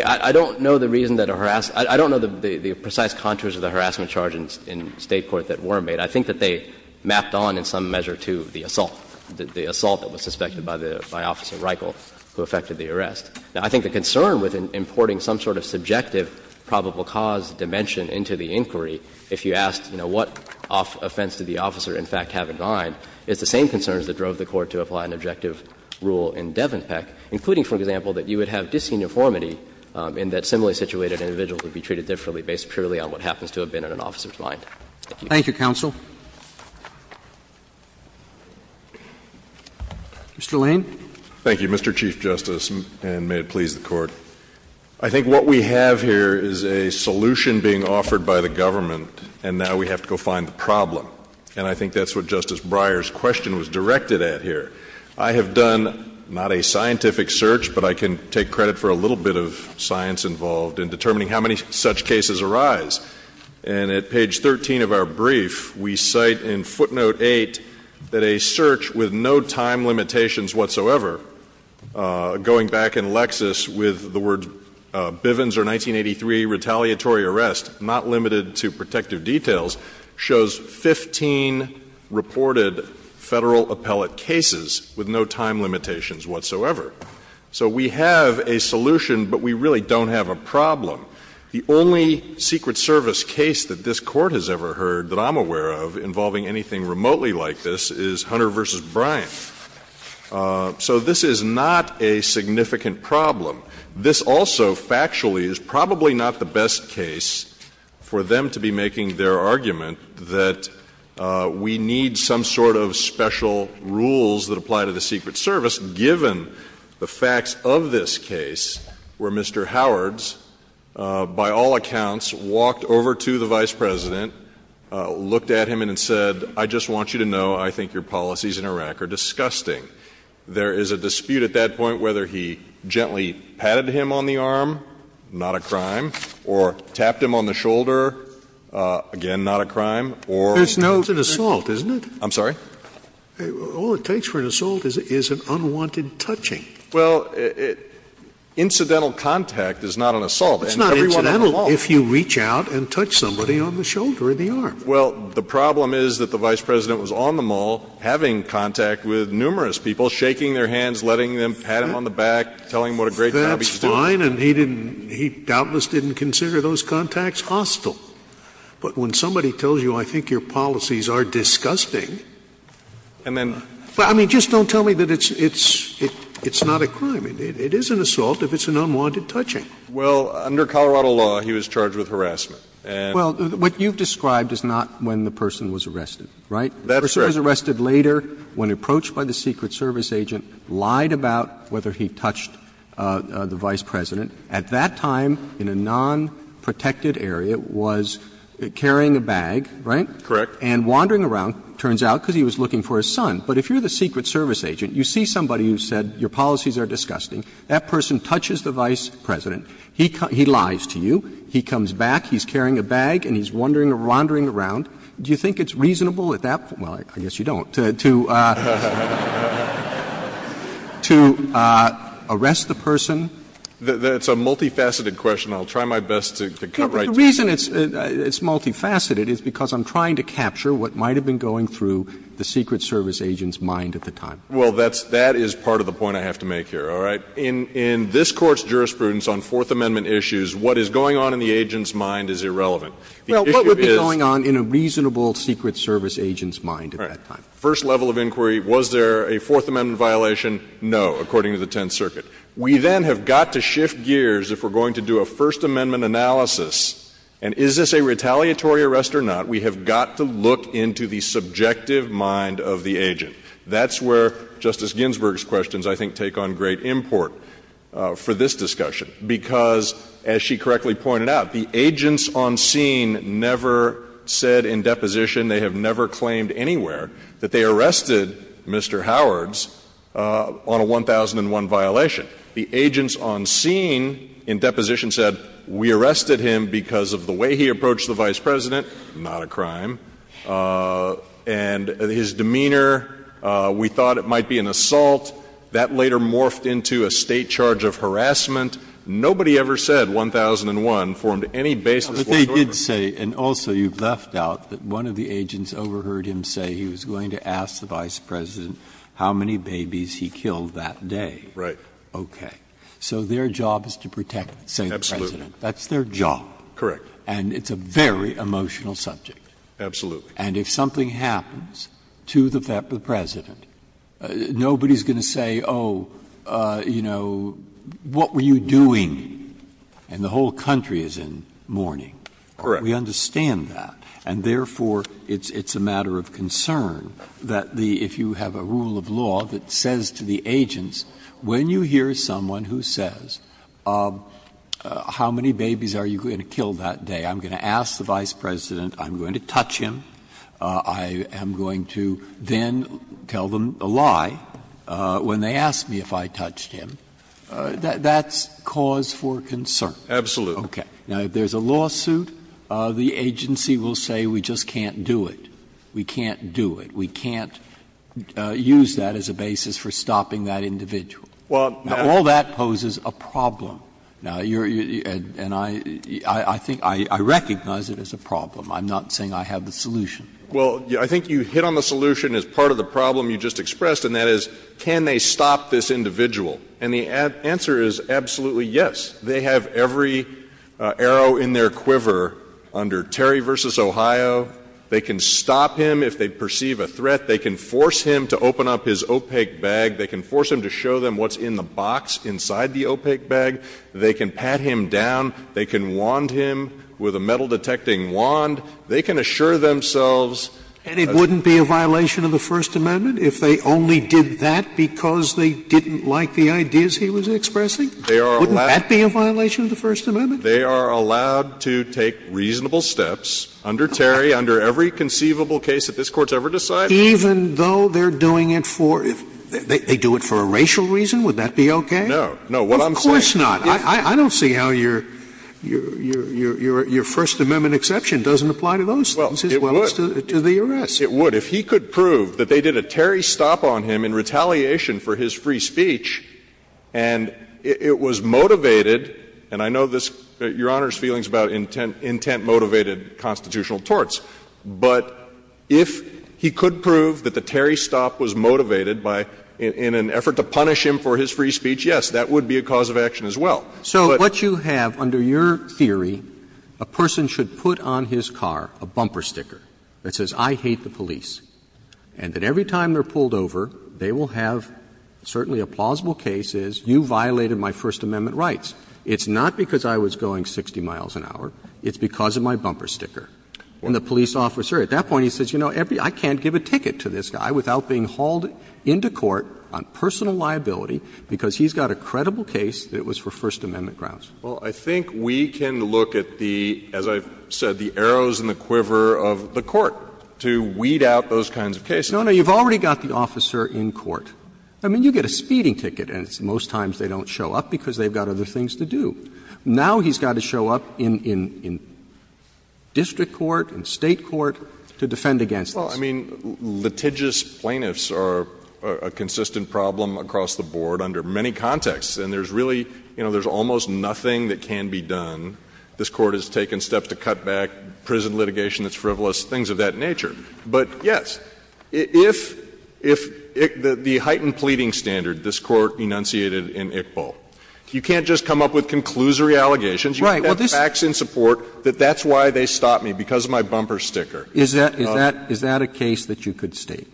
I don't know the reason that a harassed – I don't know the precise contours of the harassment charge in State court that were made. I think that they mapped on in some measure to the assault, the assault that was suspected by Officer Reichel, who affected the arrest. Now, I think the concern with importing some sort of subjective probable cause dimension into the inquiry, if you asked, you know, what offense did the officer in fact have in mind, it's the same concerns that drove the Court to apply an objective rule in Devenpeck, including, for example, that you would have disuniformity in that similarly situated individual to be treated differently based purely on what happens to have been in an officer's mind. Thank you. Roberts. Thank you, counsel. Mr. Lane. Thank you, Mr. Chief Justice, and may it please the Court. I think what we have here is a solution being offered by the government, and now we have to go find the problem. And I think that's what Justice Breyer's question was directed at here. I have done not a scientific search, but I can take credit for a little bit of science involved in determining how many such cases arise. And at page 13 of our brief, we cite in footnote 8 that a search with no time limitations whatsoever, going back in Lexis with the words Bivens or 1983 retaliatory arrest, not with no time limitations whatsoever. So we have a solution, but we really don't have a problem. The only Secret Service case that this Court has ever heard that I'm aware of involving anything remotely like this is Hunter v. Bryant. So this is not a significant problem. This also factually is probably not the best case for them to be making their argument that we need some sort of special rules that apply to the Secret Service, given the facts of this case where Mr. Howards, by all accounts, walked over to the Vice President, looked at him and said, I just want you to know I think your policies in Iraq are disgusting. There is a dispute at that point whether he gently patted him on the arm, not a crime, or tapped him on the shoulder, again, not a crime, or — There's no — It's an assault, isn't it? I'm sorry? All it takes for an assault is an unwanted touching. Well, incidental contact is not an assault. It's not incidental if you reach out and touch somebody on the shoulder or the arm. Well, the problem is that the Vice President was on the mall having contact with numerous people, shaking their hands, letting them pat him on the back, telling him what a great job he's doing. He was on the line, and he didn't — he doubtless didn't consider those contacts hostile. But when somebody tells you, I think your policies are disgusting, I mean, just don't tell me that it's — it's not a crime. It is an assault if it's an unwanted touching. Well, under Colorado law, he was charged with harassment. Well, what you've described is not when the person was arrested, right? That's right. The person was arrested later when approached by the Secret Service agent, lied about whether he touched the Vice President. At that time, in a nonprotected area, was carrying a bag, right? Correct. And wandering around, it turns out, because he was looking for his son. But if you're the Secret Service agent, you see somebody who said, your policies are disgusting, that person touches the Vice President, he lies to you, he comes back, he's carrying a bag, and he's wandering around, do you think it's reasonable at that — well, I guess you don't — to — To arrest the person? That's a multifaceted question. I'll try my best to cut right to it. The reason it's multifaceted is because I'm trying to capture what might have been going through the Secret Service agent's mind at the time. Well, that's — that is part of the point I have to make here, all right? In this Court's jurisprudence on Fourth Amendment issues, what is going on in the agent's mind is irrelevant. The issue is — Well, what would be going on in a reasonable Secret Service agent's mind at that time? First level of inquiry, was there a Fourth Amendment violation? No, according to the Tenth Circuit. We then have got to shift gears if we're going to do a First Amendment analysis, and is this a retaliatory arrest or not? We have got to look into the subjective mind of the agent. That's where Justice Ginsburg's questions, I think, take on great import for this discussion, because, as she correctly pointed out, the agents on scene never said in deposition, they have never claimed anywhere, that they arrested Mr. Howards on a 1001 violation. The agents on scene in deposition said, we arrested him because of the way he approached the Vice President, not a crime, and his demeanor. We thought it might be an assault. That later morphed into a State charge of harassment. Nobody ever said 1001 formed any basis for a torture. And also, you have left out that one of the agents overheard him say he was going to ask the Vice President how many babies he killed that day. Right. Okay. So their job is to protect the State President. Absolutely. That's their job. Correct. And it's a very emotional subject. Absolutely. And if something happens to the President, nobody is going to say, oh, you know, what were you doing? And the whole country is in mourning. Correct. We understand that. And therefore, it's a matter of concern that if you have a rule of law that says to the agents, when you hear someone who says, how many babies are you going to kill that day, I'm going to ask the Vice President, I'm going to touch him, I am going to then tell them a lie when they ask me if I touched him, that's cause for concern. Absolutely. Okay. Now, if there's a lawsuit, the agency will say we just can't do it. We can't do it. We can't use that as a basis for stopping that individual. Well, now All that poses a problem. Now, you're and I think I recognize it as a problem. I'm not saying I have the solution. Well, I think you hit on the solution as part of the problem you just expressed. And that is, can they stop this individual? And the answer is absolutely yes. They have every arrow in their quiver under Terry versus Ohio. They can stop him if they perceive a threat. They can force him to open up his opaque bag. They can force him to show them what's in the box inside the opaque bag. They can pat him down. They can want him with a metal detecting wand. They can assure themselves. And it wouldn't be a violation of the First Amendment if they only did that because they didn't like the ideas he was expressing? They are allowed. Wouldn't that be a violation of the First Amendment? They are allowed to take reasonable steps under Terry, under every conceivable case that this Court's ever decided. Even though they're doing it for they do it for a racial reason? Would that be okay? No. No. What I'm saying. Of course not. I don't see how your First Amendment exception doesn't apply to those things as well as to the arrest. It would. If he could prove that they did a Terry stop on him in retaliation for his free speech and it was motivated, and I know this, Your Honor's feelings about intent-motivated constitutional torts. But if he could prove that the Terry stop was motivated by, in an effort to punish him for his free speech, yes, that would be a cause of action as well. But. Roberts. So what you have under your theory, a person should put on his car a bumper sticker that says, I hate the police, and that every time they're pulled over, they will have certainly a plausible case is you violated my First Amendment rights. It's not because I was going 60 miles an hour. It's because of my bumper sticker. And the police officer at that point, he says, you know, I can't give a ticket to this guy without being hauled into court on personal liability, because he's got a credible case that it was for First Amendment grounds. Well, I think we can look at the, as I've said, the arrows in the quiver of the court to weed out those kinds of cases. No, no. You've already got the officer in court. I mean, you get a speeding ticket, and most times they don't show up because they've got other things to do. Now he's got to show up in district court, in State court to defend against this. Well, I mean, litigious plaintiffs are a consistent problem across the board under many contexts. And there's really, you know, there's almost nothing that can be done. This Court has taken steps to cut back prison litigation that's frivolous, things of that nature. But, yes, if the heightened pleading standard this Court enunciated in Iqbal, you can't just come up with conclusory allegations. You can have facts in support that that's why they stopped me, because of my bumper sticker. Is that a case that you could state?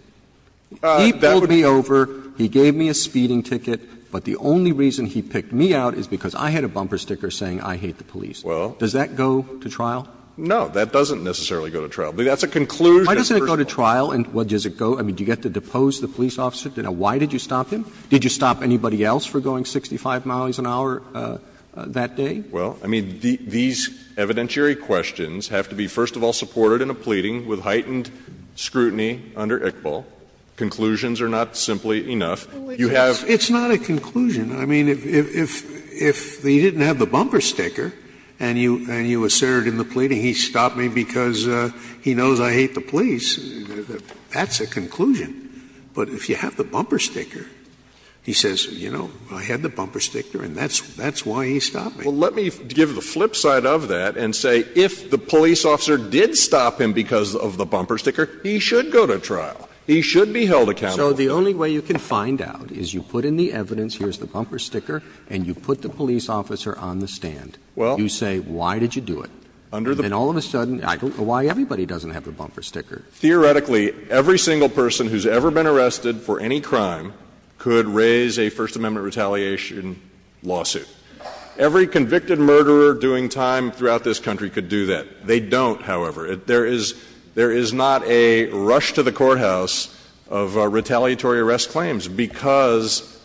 He pulled me over, he gave me a speeding ticket, but the only reason he picked me out is because I had a bumper sticker saying I hate the police. Well. Does that go to trial? No. That doesn't necessarily go to trial. But that's a conclusion. Why doesn't it go to trial, and what does it go? I mean, do you get to depose the police officer? Why did you stop him? Did you stop anybody else for going 65 miles an hour that day? Well, I mean, these evidentiary questions have to be, first of all, supported in a pleading with heightened scrutiny under Iqbal. Conclusions are not simply enough. You have. It's not a conclusion. I mean, if he didn't have the bumper sticker and you assert in the pleading he stopped me because he knows I hate the police, that's a conclusion. But if you have the bumper sticker, he says, you know, I had the bumper sticker and that's why he stopped me. Well, let me give the flip side of that and say, if the police officer did stop him because of the bumper sticker, he should go to trial. He should be held accountable. So the only way you can find out is you put in the evidence, here's the bumper sticker, and you put the police officer on the stand. Well. You say, why did you do it? Under the. And all of a sudden, I don't know why everybody doesn't have the bumper sticker. Theoretically, every single person who's ever been arrested for any crime could raise a First Amendment retaliation lawsuit. Every convicted murderer doing time throughout this country could do that. They don't, however. There is not a rush to the courthouse of retaliatory arrest claims because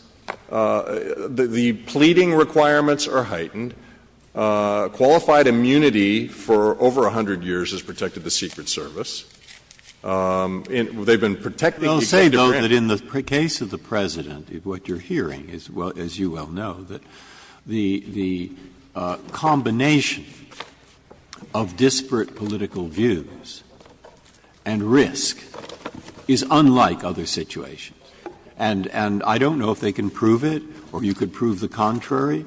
the pleading requirements are heightened. Qualified immunity for over 100 years has protected the Secret Service. They've been protecting. I'll say, though, that in the case of the President, what you're hearing, as you well know, that the combination of disparate political views and risk is unlike other situations. And I don't know if they can prove it, or you could prove the contrary,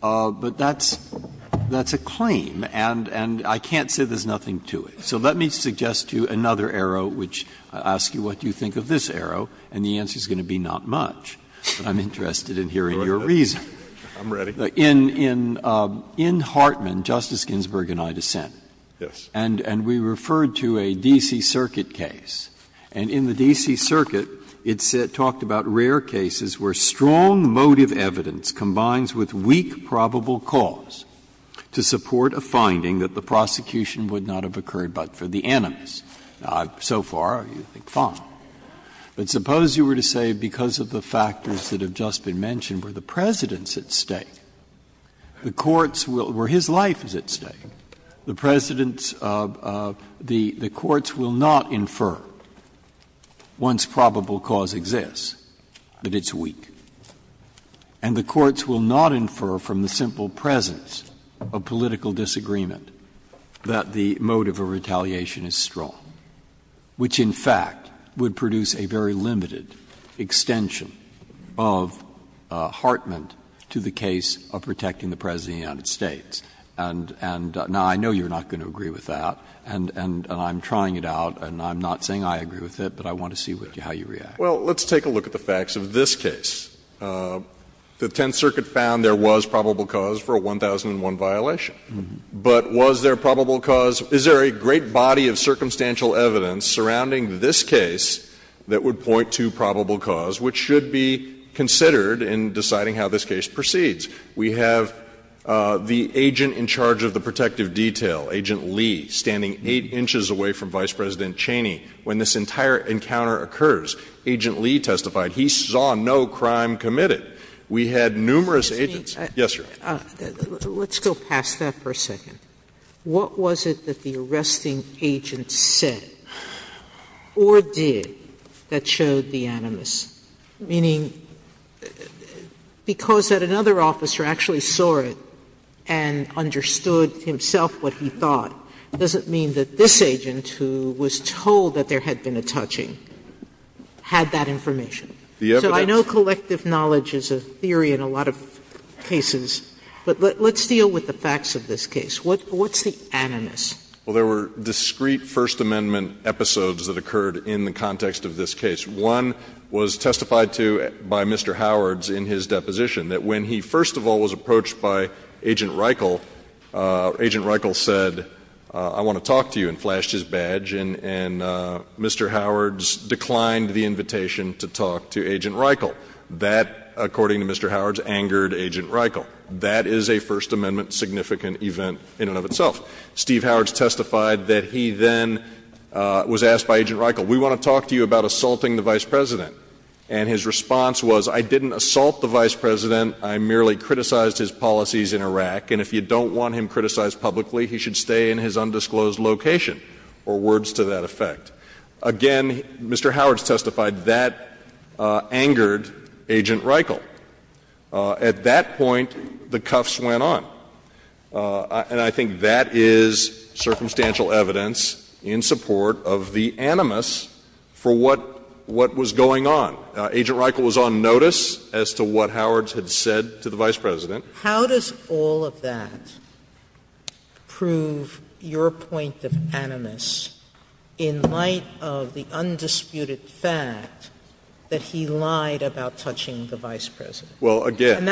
but that's a claim, and I can't say there's nothing to it. So let me suggest to you another arrow, which I'll ask you, what do you think of this arrow, and the answer is going to be not much. But I'm interested in hearing your reason. In Hartman, Justice Ginsburg and I dissent. And we referred to a D.C. Circuit case. And in the D.C. Circuit, it talked about rare cases where strong motive evidence combines with weak probable cause to support a finding that the prosecution would not have occurred but for the animus. So far, I think fine. But suppose you were to say because of the factors that have just been mentioned were the President at stake, the courts will ‑‑ or his life is at stake, the President's ‑‑ the courts will not infer once probable cause exists that it's weak. And the courts will not infer from the simple presence of political disagreement that the motive of retaliation is strong, which in fact would produce a very limited extension of Hartman to the case of protecting the President of the United States. And now, I know you're not going to agree with that, and I'm trying it out, and I'm not saying I agree with it, but I want to see how you react. Well, let's take a look at the facts of this case. The Tenth Circuit found there was probable cause for a 1001 violation. But was there probable cause ‑‑ is there a great body of circumstantial evidence surrounding this case that would point to probable cause, which should be considered in deciding how this case proceeds? We have the agent in charge of the protective detail, Agent Lee, standing 8 inches away from Vice President Cheney when this entire encounter occurs. Agent Lee testified. He saw no crime committed. We had numerous agents. Yes, Your Honor. Sotomayor, let's go past that for a second. What was it that the arresting agent said or did that showed the animus? Meaning, because that another officer actually saw it and understood himself what he thought, it doesn't mean that this agent, who was told that there had been a touching, had that information. So I know collective knowledge is a theory in a lot of cases. But let's deal with the facts of this case. What's the animus? Well, there were discrete First Amendment episodes that occurred in the context of this case. One was testified to by Mr. Howards in his deposition, that when he first of all was approached by Agent Reichel, Agent Reichel said, I want to talk to you, and flashed his badge. And Mr. Howards declined the invitation to talk to Agent Reichel. That, according to Mr. Howards, angered Agent Reichel. That is a First Amendment significant event in and of itself. Steve Howards testified that he then was asked by Agent Reichel, we want to talk to you about assaulting the Vice President. And his response was, I didn't assault the Vice President. I merely criticized his policies in Iraq. And if you don't want him criticized publicly, he should stay in his undisclosed location, or words to that effect. Again, Mr. Howards testified that angered Agent Reichel. At that point, the cuffs went on. And I think that is circumstantial evidence in support of the animus for what was going on. Agent Reichel was on notice as to what Howards had said to the Vice President. Sotomayor How does all of that prove your point of animus in light of the undisputed fact that he lied about touching the Vice President? Well, again,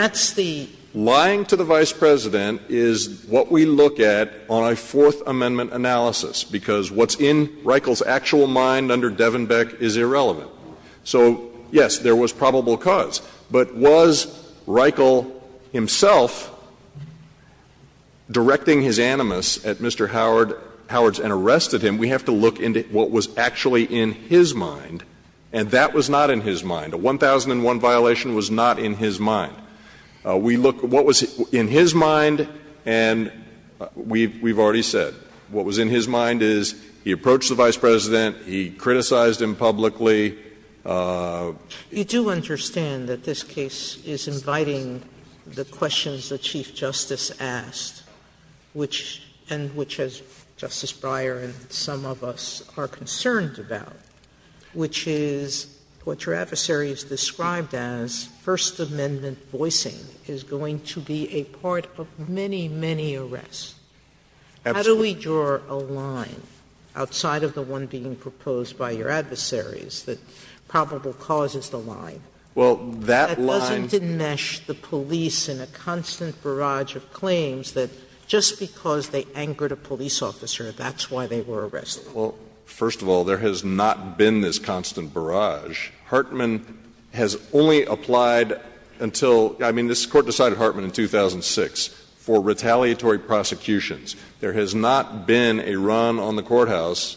lying to the Vice President is what we look at on a Fourth Amendment analysis, because what's in Reichel's actual mind under Devenbeck is irrelevant. So, yes, there was probable cause. But was Reichel himself directing his animus at Mr. Howards and arrested him? We have to look into what was actually in his mind, and that was not in his mind. A 1001 violation was not in his mind. We look at what was in his mind, and we've already said, what was in his mind is he approached the Vice President, he criticized him publicly. You do understand that this case is inviting the questions that Chief Justice asked, and which, as Justice Breyer and some of us are concerned about, which is what your adversary has described as First Amendment voicing is going to be a part of many, many arrests. How do we draw a line outside of the one being proposed by your adversaries that probable cause is the line that doesn't enmesh the police in a constant barrage of claims that just because they angered a police officer, that's why they were arrested? Well, first of all, there has not been this constant barrage. Hartman has only applied until — I mean, this Court decided Hartman in 2006 for retaliatory prosecutions. There has not been a run on the courthouse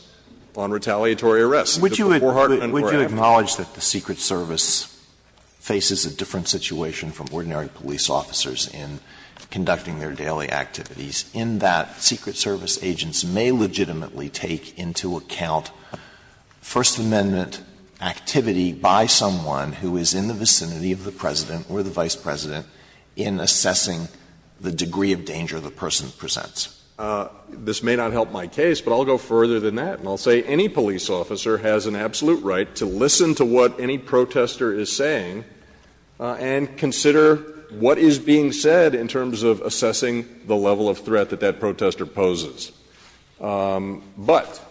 on retaliatory arrests. Would you acknowledge that the Secret Service faces a different situation from ordinary police officers in conducting their daily activities, in that Secret Service agents may legitimately take into account First Amendment activity by someone who is in the vicinity of the President or the Vice President in assessing the degree of danger the person presents? This may not help my case, but I'll go further than that, and I'll say any police officer has an absolute right to listen to what any protester is saying and consider what is being said in terms of assessing the level of threat that that protester poses. But,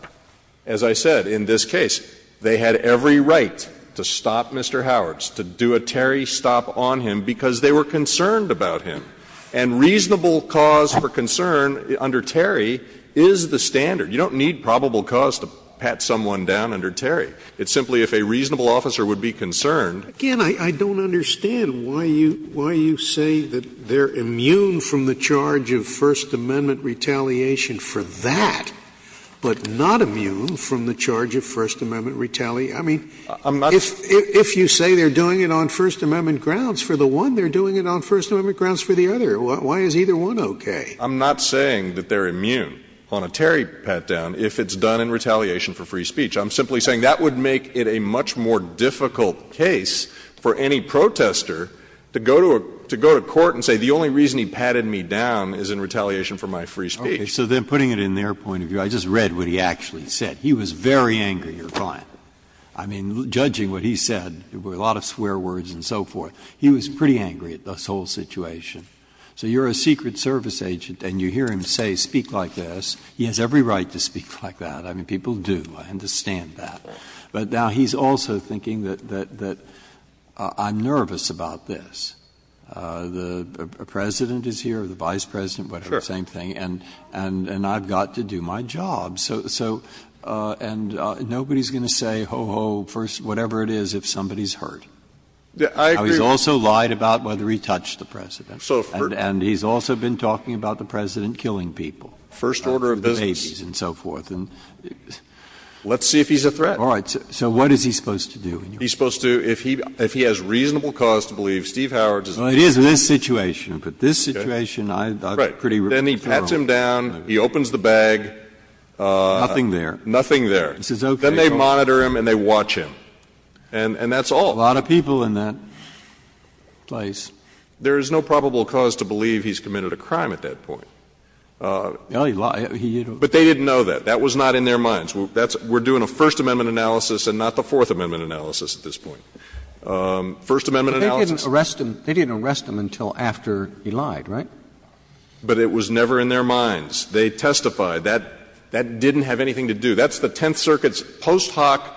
as I said, in this case, they had every right to stop Mr. Howards, to do a Terry stop on him, because they were concerned about him. And reasonable cause for concern under Terry is the standard. You don't need probable cause to pat someone down under Terry. It's simply if a reasonable officer would be concerned. Again, I don't understand why you — why you say that they're immune from the charge of First Amendment retaliation for that, but not immune from the charge of First Amendment retaliation. I mean, if you say they're doing it on First Amendment grounds for the one, they're doing it on First Amendment grounds for the other. Why is either one okay? I'm not saying that they're immune on a Terry pat-down if it's done in retaliation for free speech. I'm simply saying that would make it a much more difficult case for any protester to go to a — to go to court and say the only reason he patted me down is in retaliation for my free speech. Okay. So then, putting it in their point of view, I just read what he actually said. He was very angry. You're fine. I mean, judging what he said, there were a lot of swear words and so forth. He was pretty angry at this whole situation. So you're a Secret Service agent and you hear him say, speak like this. He has every right to speak like that. I mean, people do. I understand that. But now he's also thinking that I'm nervous about this. The President is here, the Vice President, whatever, same thing, and I've got to do my job. So — and nobody's going to say, ho, ho, whatever it is if somebody's hurt. I mean, he's also lied about whether he touched the President. And he's also been talking about the President killing people, the Macy's and so forth. And let's see if he's a threat. All right. So what is he supposed to do? He's supposed to, if he has reasonable cause to believe Steve Howard doesn't do this. Well, it is in this situation. But this situation, I'm pretty peripheral. Then he pats him down, he opens the bag. Nothing there. Nothing there. Then they monitor him and they watch him. And that's all. A lot of people in that place. There is no probable cause to believe he's committed a crime at that point. But they didn't know that. That was not in their minds. We're doing a First Amendment analysis and not the Fourth Amendment analysis at this point. First Amendment analysis — But they didn't arrest him until after he lied, right? But it was never in their minds. They testified. That didn't have anything to do. That's the Tenth Circuit's post hoc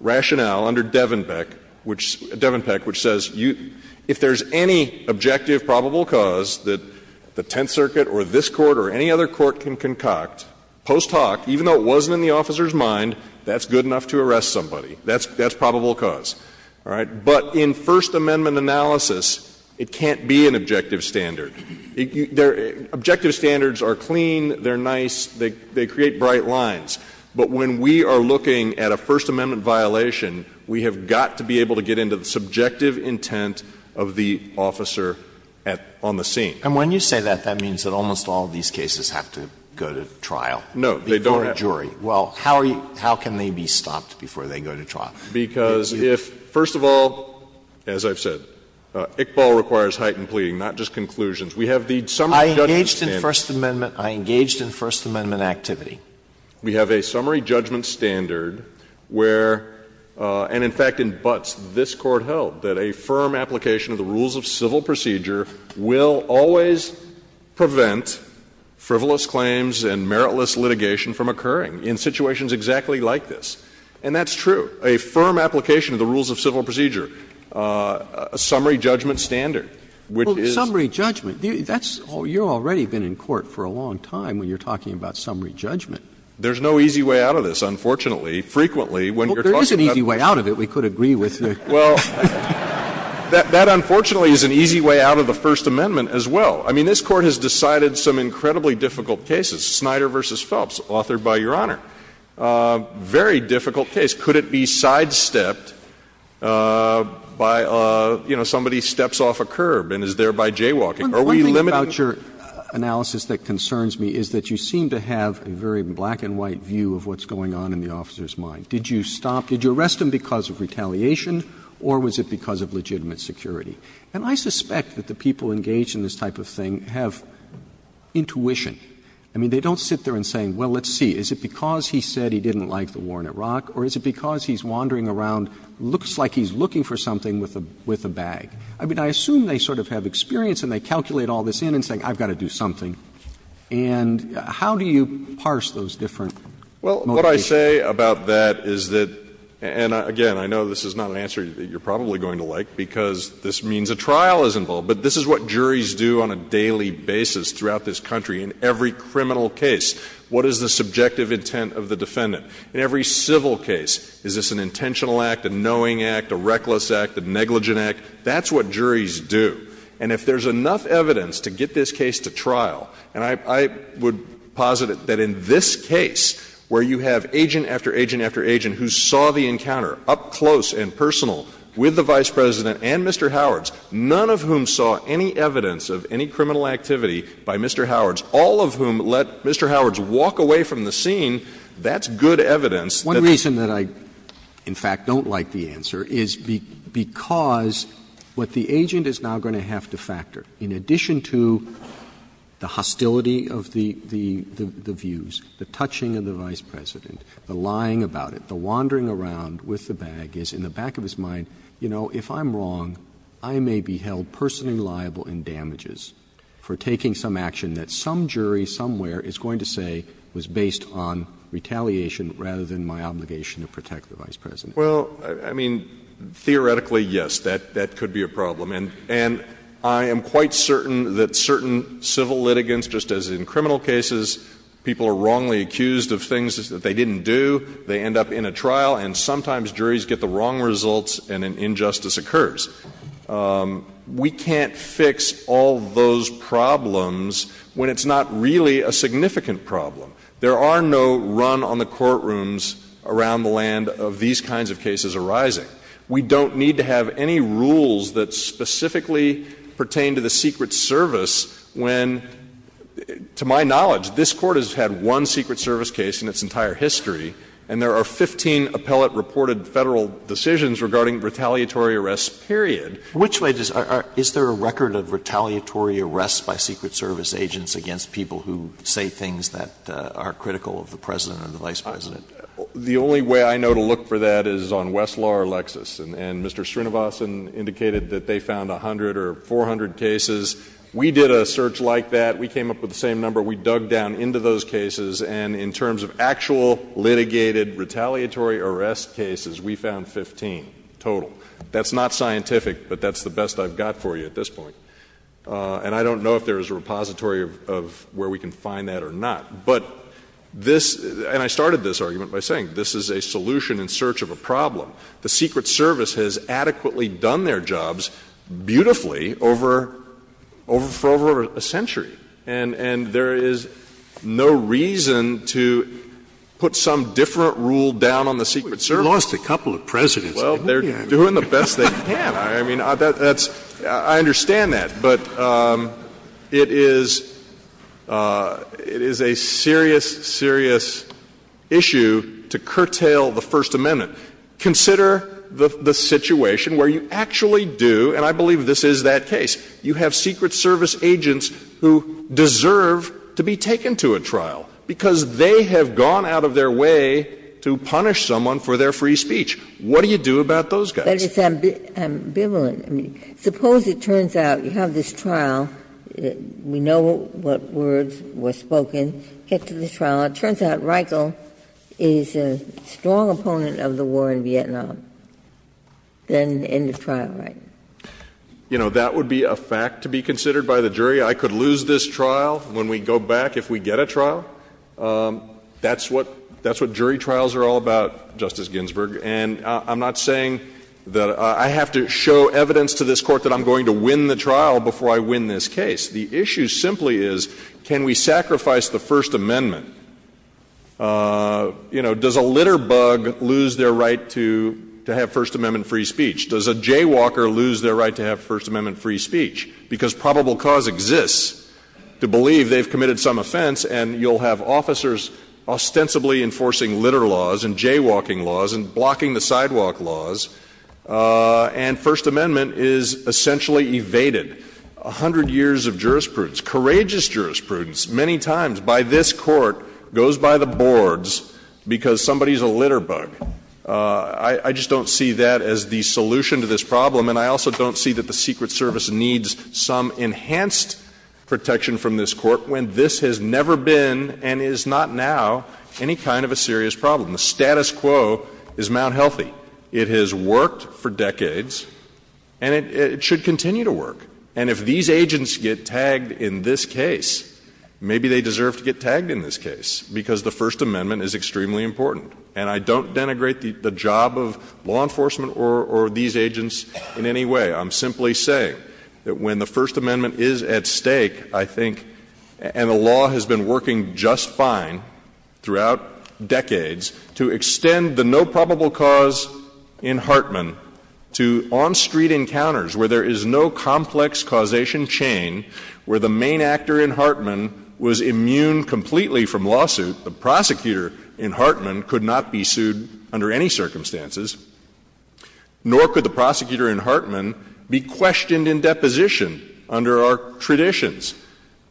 rationale under Devenpeck, which says if there's any objective probable cause that the Tenth Circuit or this Court or any other court can concoct, post hoc, even though it wasn't in the officer's mind, that's good enough to arrest somebody. That's probable cause, all right? But in First Amendment analysis, it can't be an objective standard. Objective standards are clean, they're nice, they create bright lines. But when we are looking at a First Amendment violation, we have got to be able to get into the subjective intent of the officer at — on the scene. And when you say that, that means that almost all of these cases have to go to trial. No, they don't have to. Before a jury. Well, how are you — how can they be stopped before they go to trial? Because if, first of all, as I've said, Iqbal requires heightened pleading, not just conclusions. We have the summary judgment standard. I engaged in First Amendment — I engaged in First Amendment activity. We have a summary judgment standard where — and in fact in Butts, this Court held that a firm application of the rules of civil procedure will always prevent frivolous claims and meritless litigation from occurring in situations exactly like this. And that's true. A firm application of the rules of civil procedure, a summary judgment standard, which is — Well, summary judgment, that's — you've already been in court for a long time when you're talking about summary judgment. There's no easy way out of this, unfortunately. Frequently, when you're talking about — Well, there is an easy way out of it, we could agree with you. Well, that unfortunately is an easy way out of the First Amendment as well. I mean, this Court has decided some incredibly difficult cases. Snyder v. Phelps, authored by Your Honor, very difficult case. Could it be sidestepped by, you know, somebody steps off a curb and is thereby jaywalking? Are we limiting — I mean, the question is that you seem to have a very black-and-white view of what's going on in the officer's mind. Did you stop — did you arrest him because of retaliation or was it because of legitimate security? And I suspect that the people engaged in this type of thing have intuition. I mean, they don't sit there and say, well, let's see, is it because he said he didn't like the war in Iraq or is it because he's wandering around, looks like he's looking for something with a bag? I mean, I assume they sort of have experience and they calculate all this in and say, I've got to do something. And how do you parse those different motivations? Well, what I say about that is that — and again, I know this is not an answer that you're probably going to like because this means a trial is involved, but this is what juries do on a daily basis throughout this country in every criminal case. What is the subjective intent of the defendant? In every civil case, is this an intentional act, a knowing act, a reckless act, a negligent act? That's what juries do. And if there's enough evidence to get this case to trial, and I would posit that in this case where you have agent after agent after agent who saw the encounter up close and personal with the Vice President and Mr. Howards, none of whom saw any evidence of any criminal activity by Mr. Howards, all of whom let Mr. Howards walk away from the scene, that's good evidence that the — One reason that I, in fact, don't like the answer is because what the agent is now going to have to factor, in addition to the hostility of the views, the touching of the Vice President, the lying about it, the wandering around with the bag, is in the back of his mind, you know, if I'm wrong, I may be held personally liable in damages for taking some action that some jury somewhere is going to say was based on retaliation rather than my obligation to protect the Vice President. Well, I mean, theoretically, yes, that could be a problem. And I am quite certain that certain civil litigants, just as in criminal cases, people are wrongly accused of things that they didn't do, they end up in a trial, and sometimes juries get the wrong results and an injustice occurs. We can't fix all those problems when it's not really a significant problem. There are no run-on-the-courtrooms around the land of these kinds of cases arising. We don't need to have any rules that specifically pertain to the Secret Service when, to my knowledge, this Court has had one Secret Service case in its entire history, and there are 15 appellate-reported Federal decisions regarding retaliatory arrests, period. Which way does — is there a record of retaliatory arrests by Secret Service agents against people who say things that are critical of the President or the Vice President? The only way I know to look for that is on Westlaw or Lexis, and Mr. Srinivasan indicated that they found 100 or 400 cases. We did a search like that. We came up with the same number. We dug down into those cases, and in terms of actual litigated retaliatory arrest cases, we found 15 total. That's not scientific, but that's the best I've got for you at this point. And I don't know if there is a repository of where we can find that or not. But this — and I started this argument by saying this is a solution in search of a problem. The Secret Service has adequately done their jobs beautifully over — for over a century, and there is no reason to put some different rule down on the Secret Service. You lost a couple of Presidents. Well, they're doing the best they can. I mean, that's — I understand that. But it is — it is a serious, serious issue to curtail the First Amendment. Consider the situation where you actually do — and I believe this is that case — you have Secret Service agents who deserve to be taken to a trial because they have gone out of their way to punish someone for their free speech. What do you do about those guys? But it's ambivalent. I mean, suppose it turns out you have this trial. We know what words were spoken. Get to the trial. It turns out Reichle is a strong opponent of the war in Vietnam. Then end of trial, right? You know, that would be a fact to be considered by the jury. I could lose this trial when we go back, if we get a trial. That's what — that's what jury trials are all about, Justice Ginsburg. And I'm not saying that — I have to show evidence to this Court that I'm going to win the trial before I win this case. The issue simply is, can we sacrifice the First Amendment? You know, does a litter bug lose their right to have First Amendment-free speech? Does a jaywalker lose their right to have First Amendment-free speech? Because probable cause exists to believe they've committed some offense, and you'll have officers ostensibly enforcing litter laws and jaywalking laws and blocking-the-sidewalk laws. And First Amendment is essentially evaded. A hundred years of jurisprudence, courageous jurisprudence, many times by this Court, goes by the boards because somebody's a litter bug. I just don't see that as the solution to this problem, and I also don't see that the Secret Service needs some enhanced protection from this Court when this has never been and is not now any kind of a serious problem. The status quo is Mount Healthy. It has worked for decades, and it should continue to work. And if these agents get tagged in this case, maybe they deserve to get tagged in this case because the First Amendment is extremely important. And I don't denigrate the job of law enforcement or these agents in any way. I'm simply saying that when the First Amendment is at stake, I think — and the law has been working just fine throughout decades — to extend the no probable cause in Hartman to on-street encounters where there is no complex causation chain, where the main actor in Hartman was immune completely from lawsuit. The prosecutor in Hartman could not be sued under any circumstances, nor could the prosecutor in Hartman be questioned in deposition under our traditions.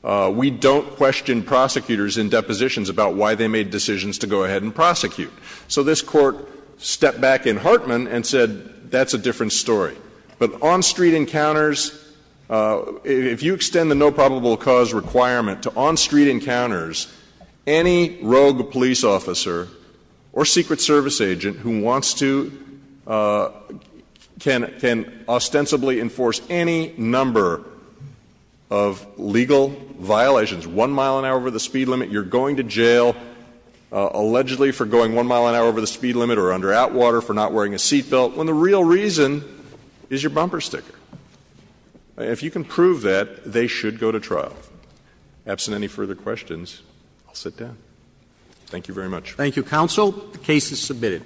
We don't question prosecutors in depositions about why they made decisions to go ahead and prosecute. So this Court stepped back in Hartman and said, that's a different story. But on-street encounters — if you extend the no probable cause requirement to on-street encounters, any rogue police officer or Secret Service agent who wants to — can ostensibly enforce any number of legal violations — one mile an hour over the speed limit, you're going to jail allegedly for going one mile an hour over the speed limit or under outwater for not wearing a seat belt — when the real reason is your bumper sticker. If you can prove that, they should go to trial. Absent any further questions, I'll sit down. Thank you very much. Thank you, counsel. The case is submitted.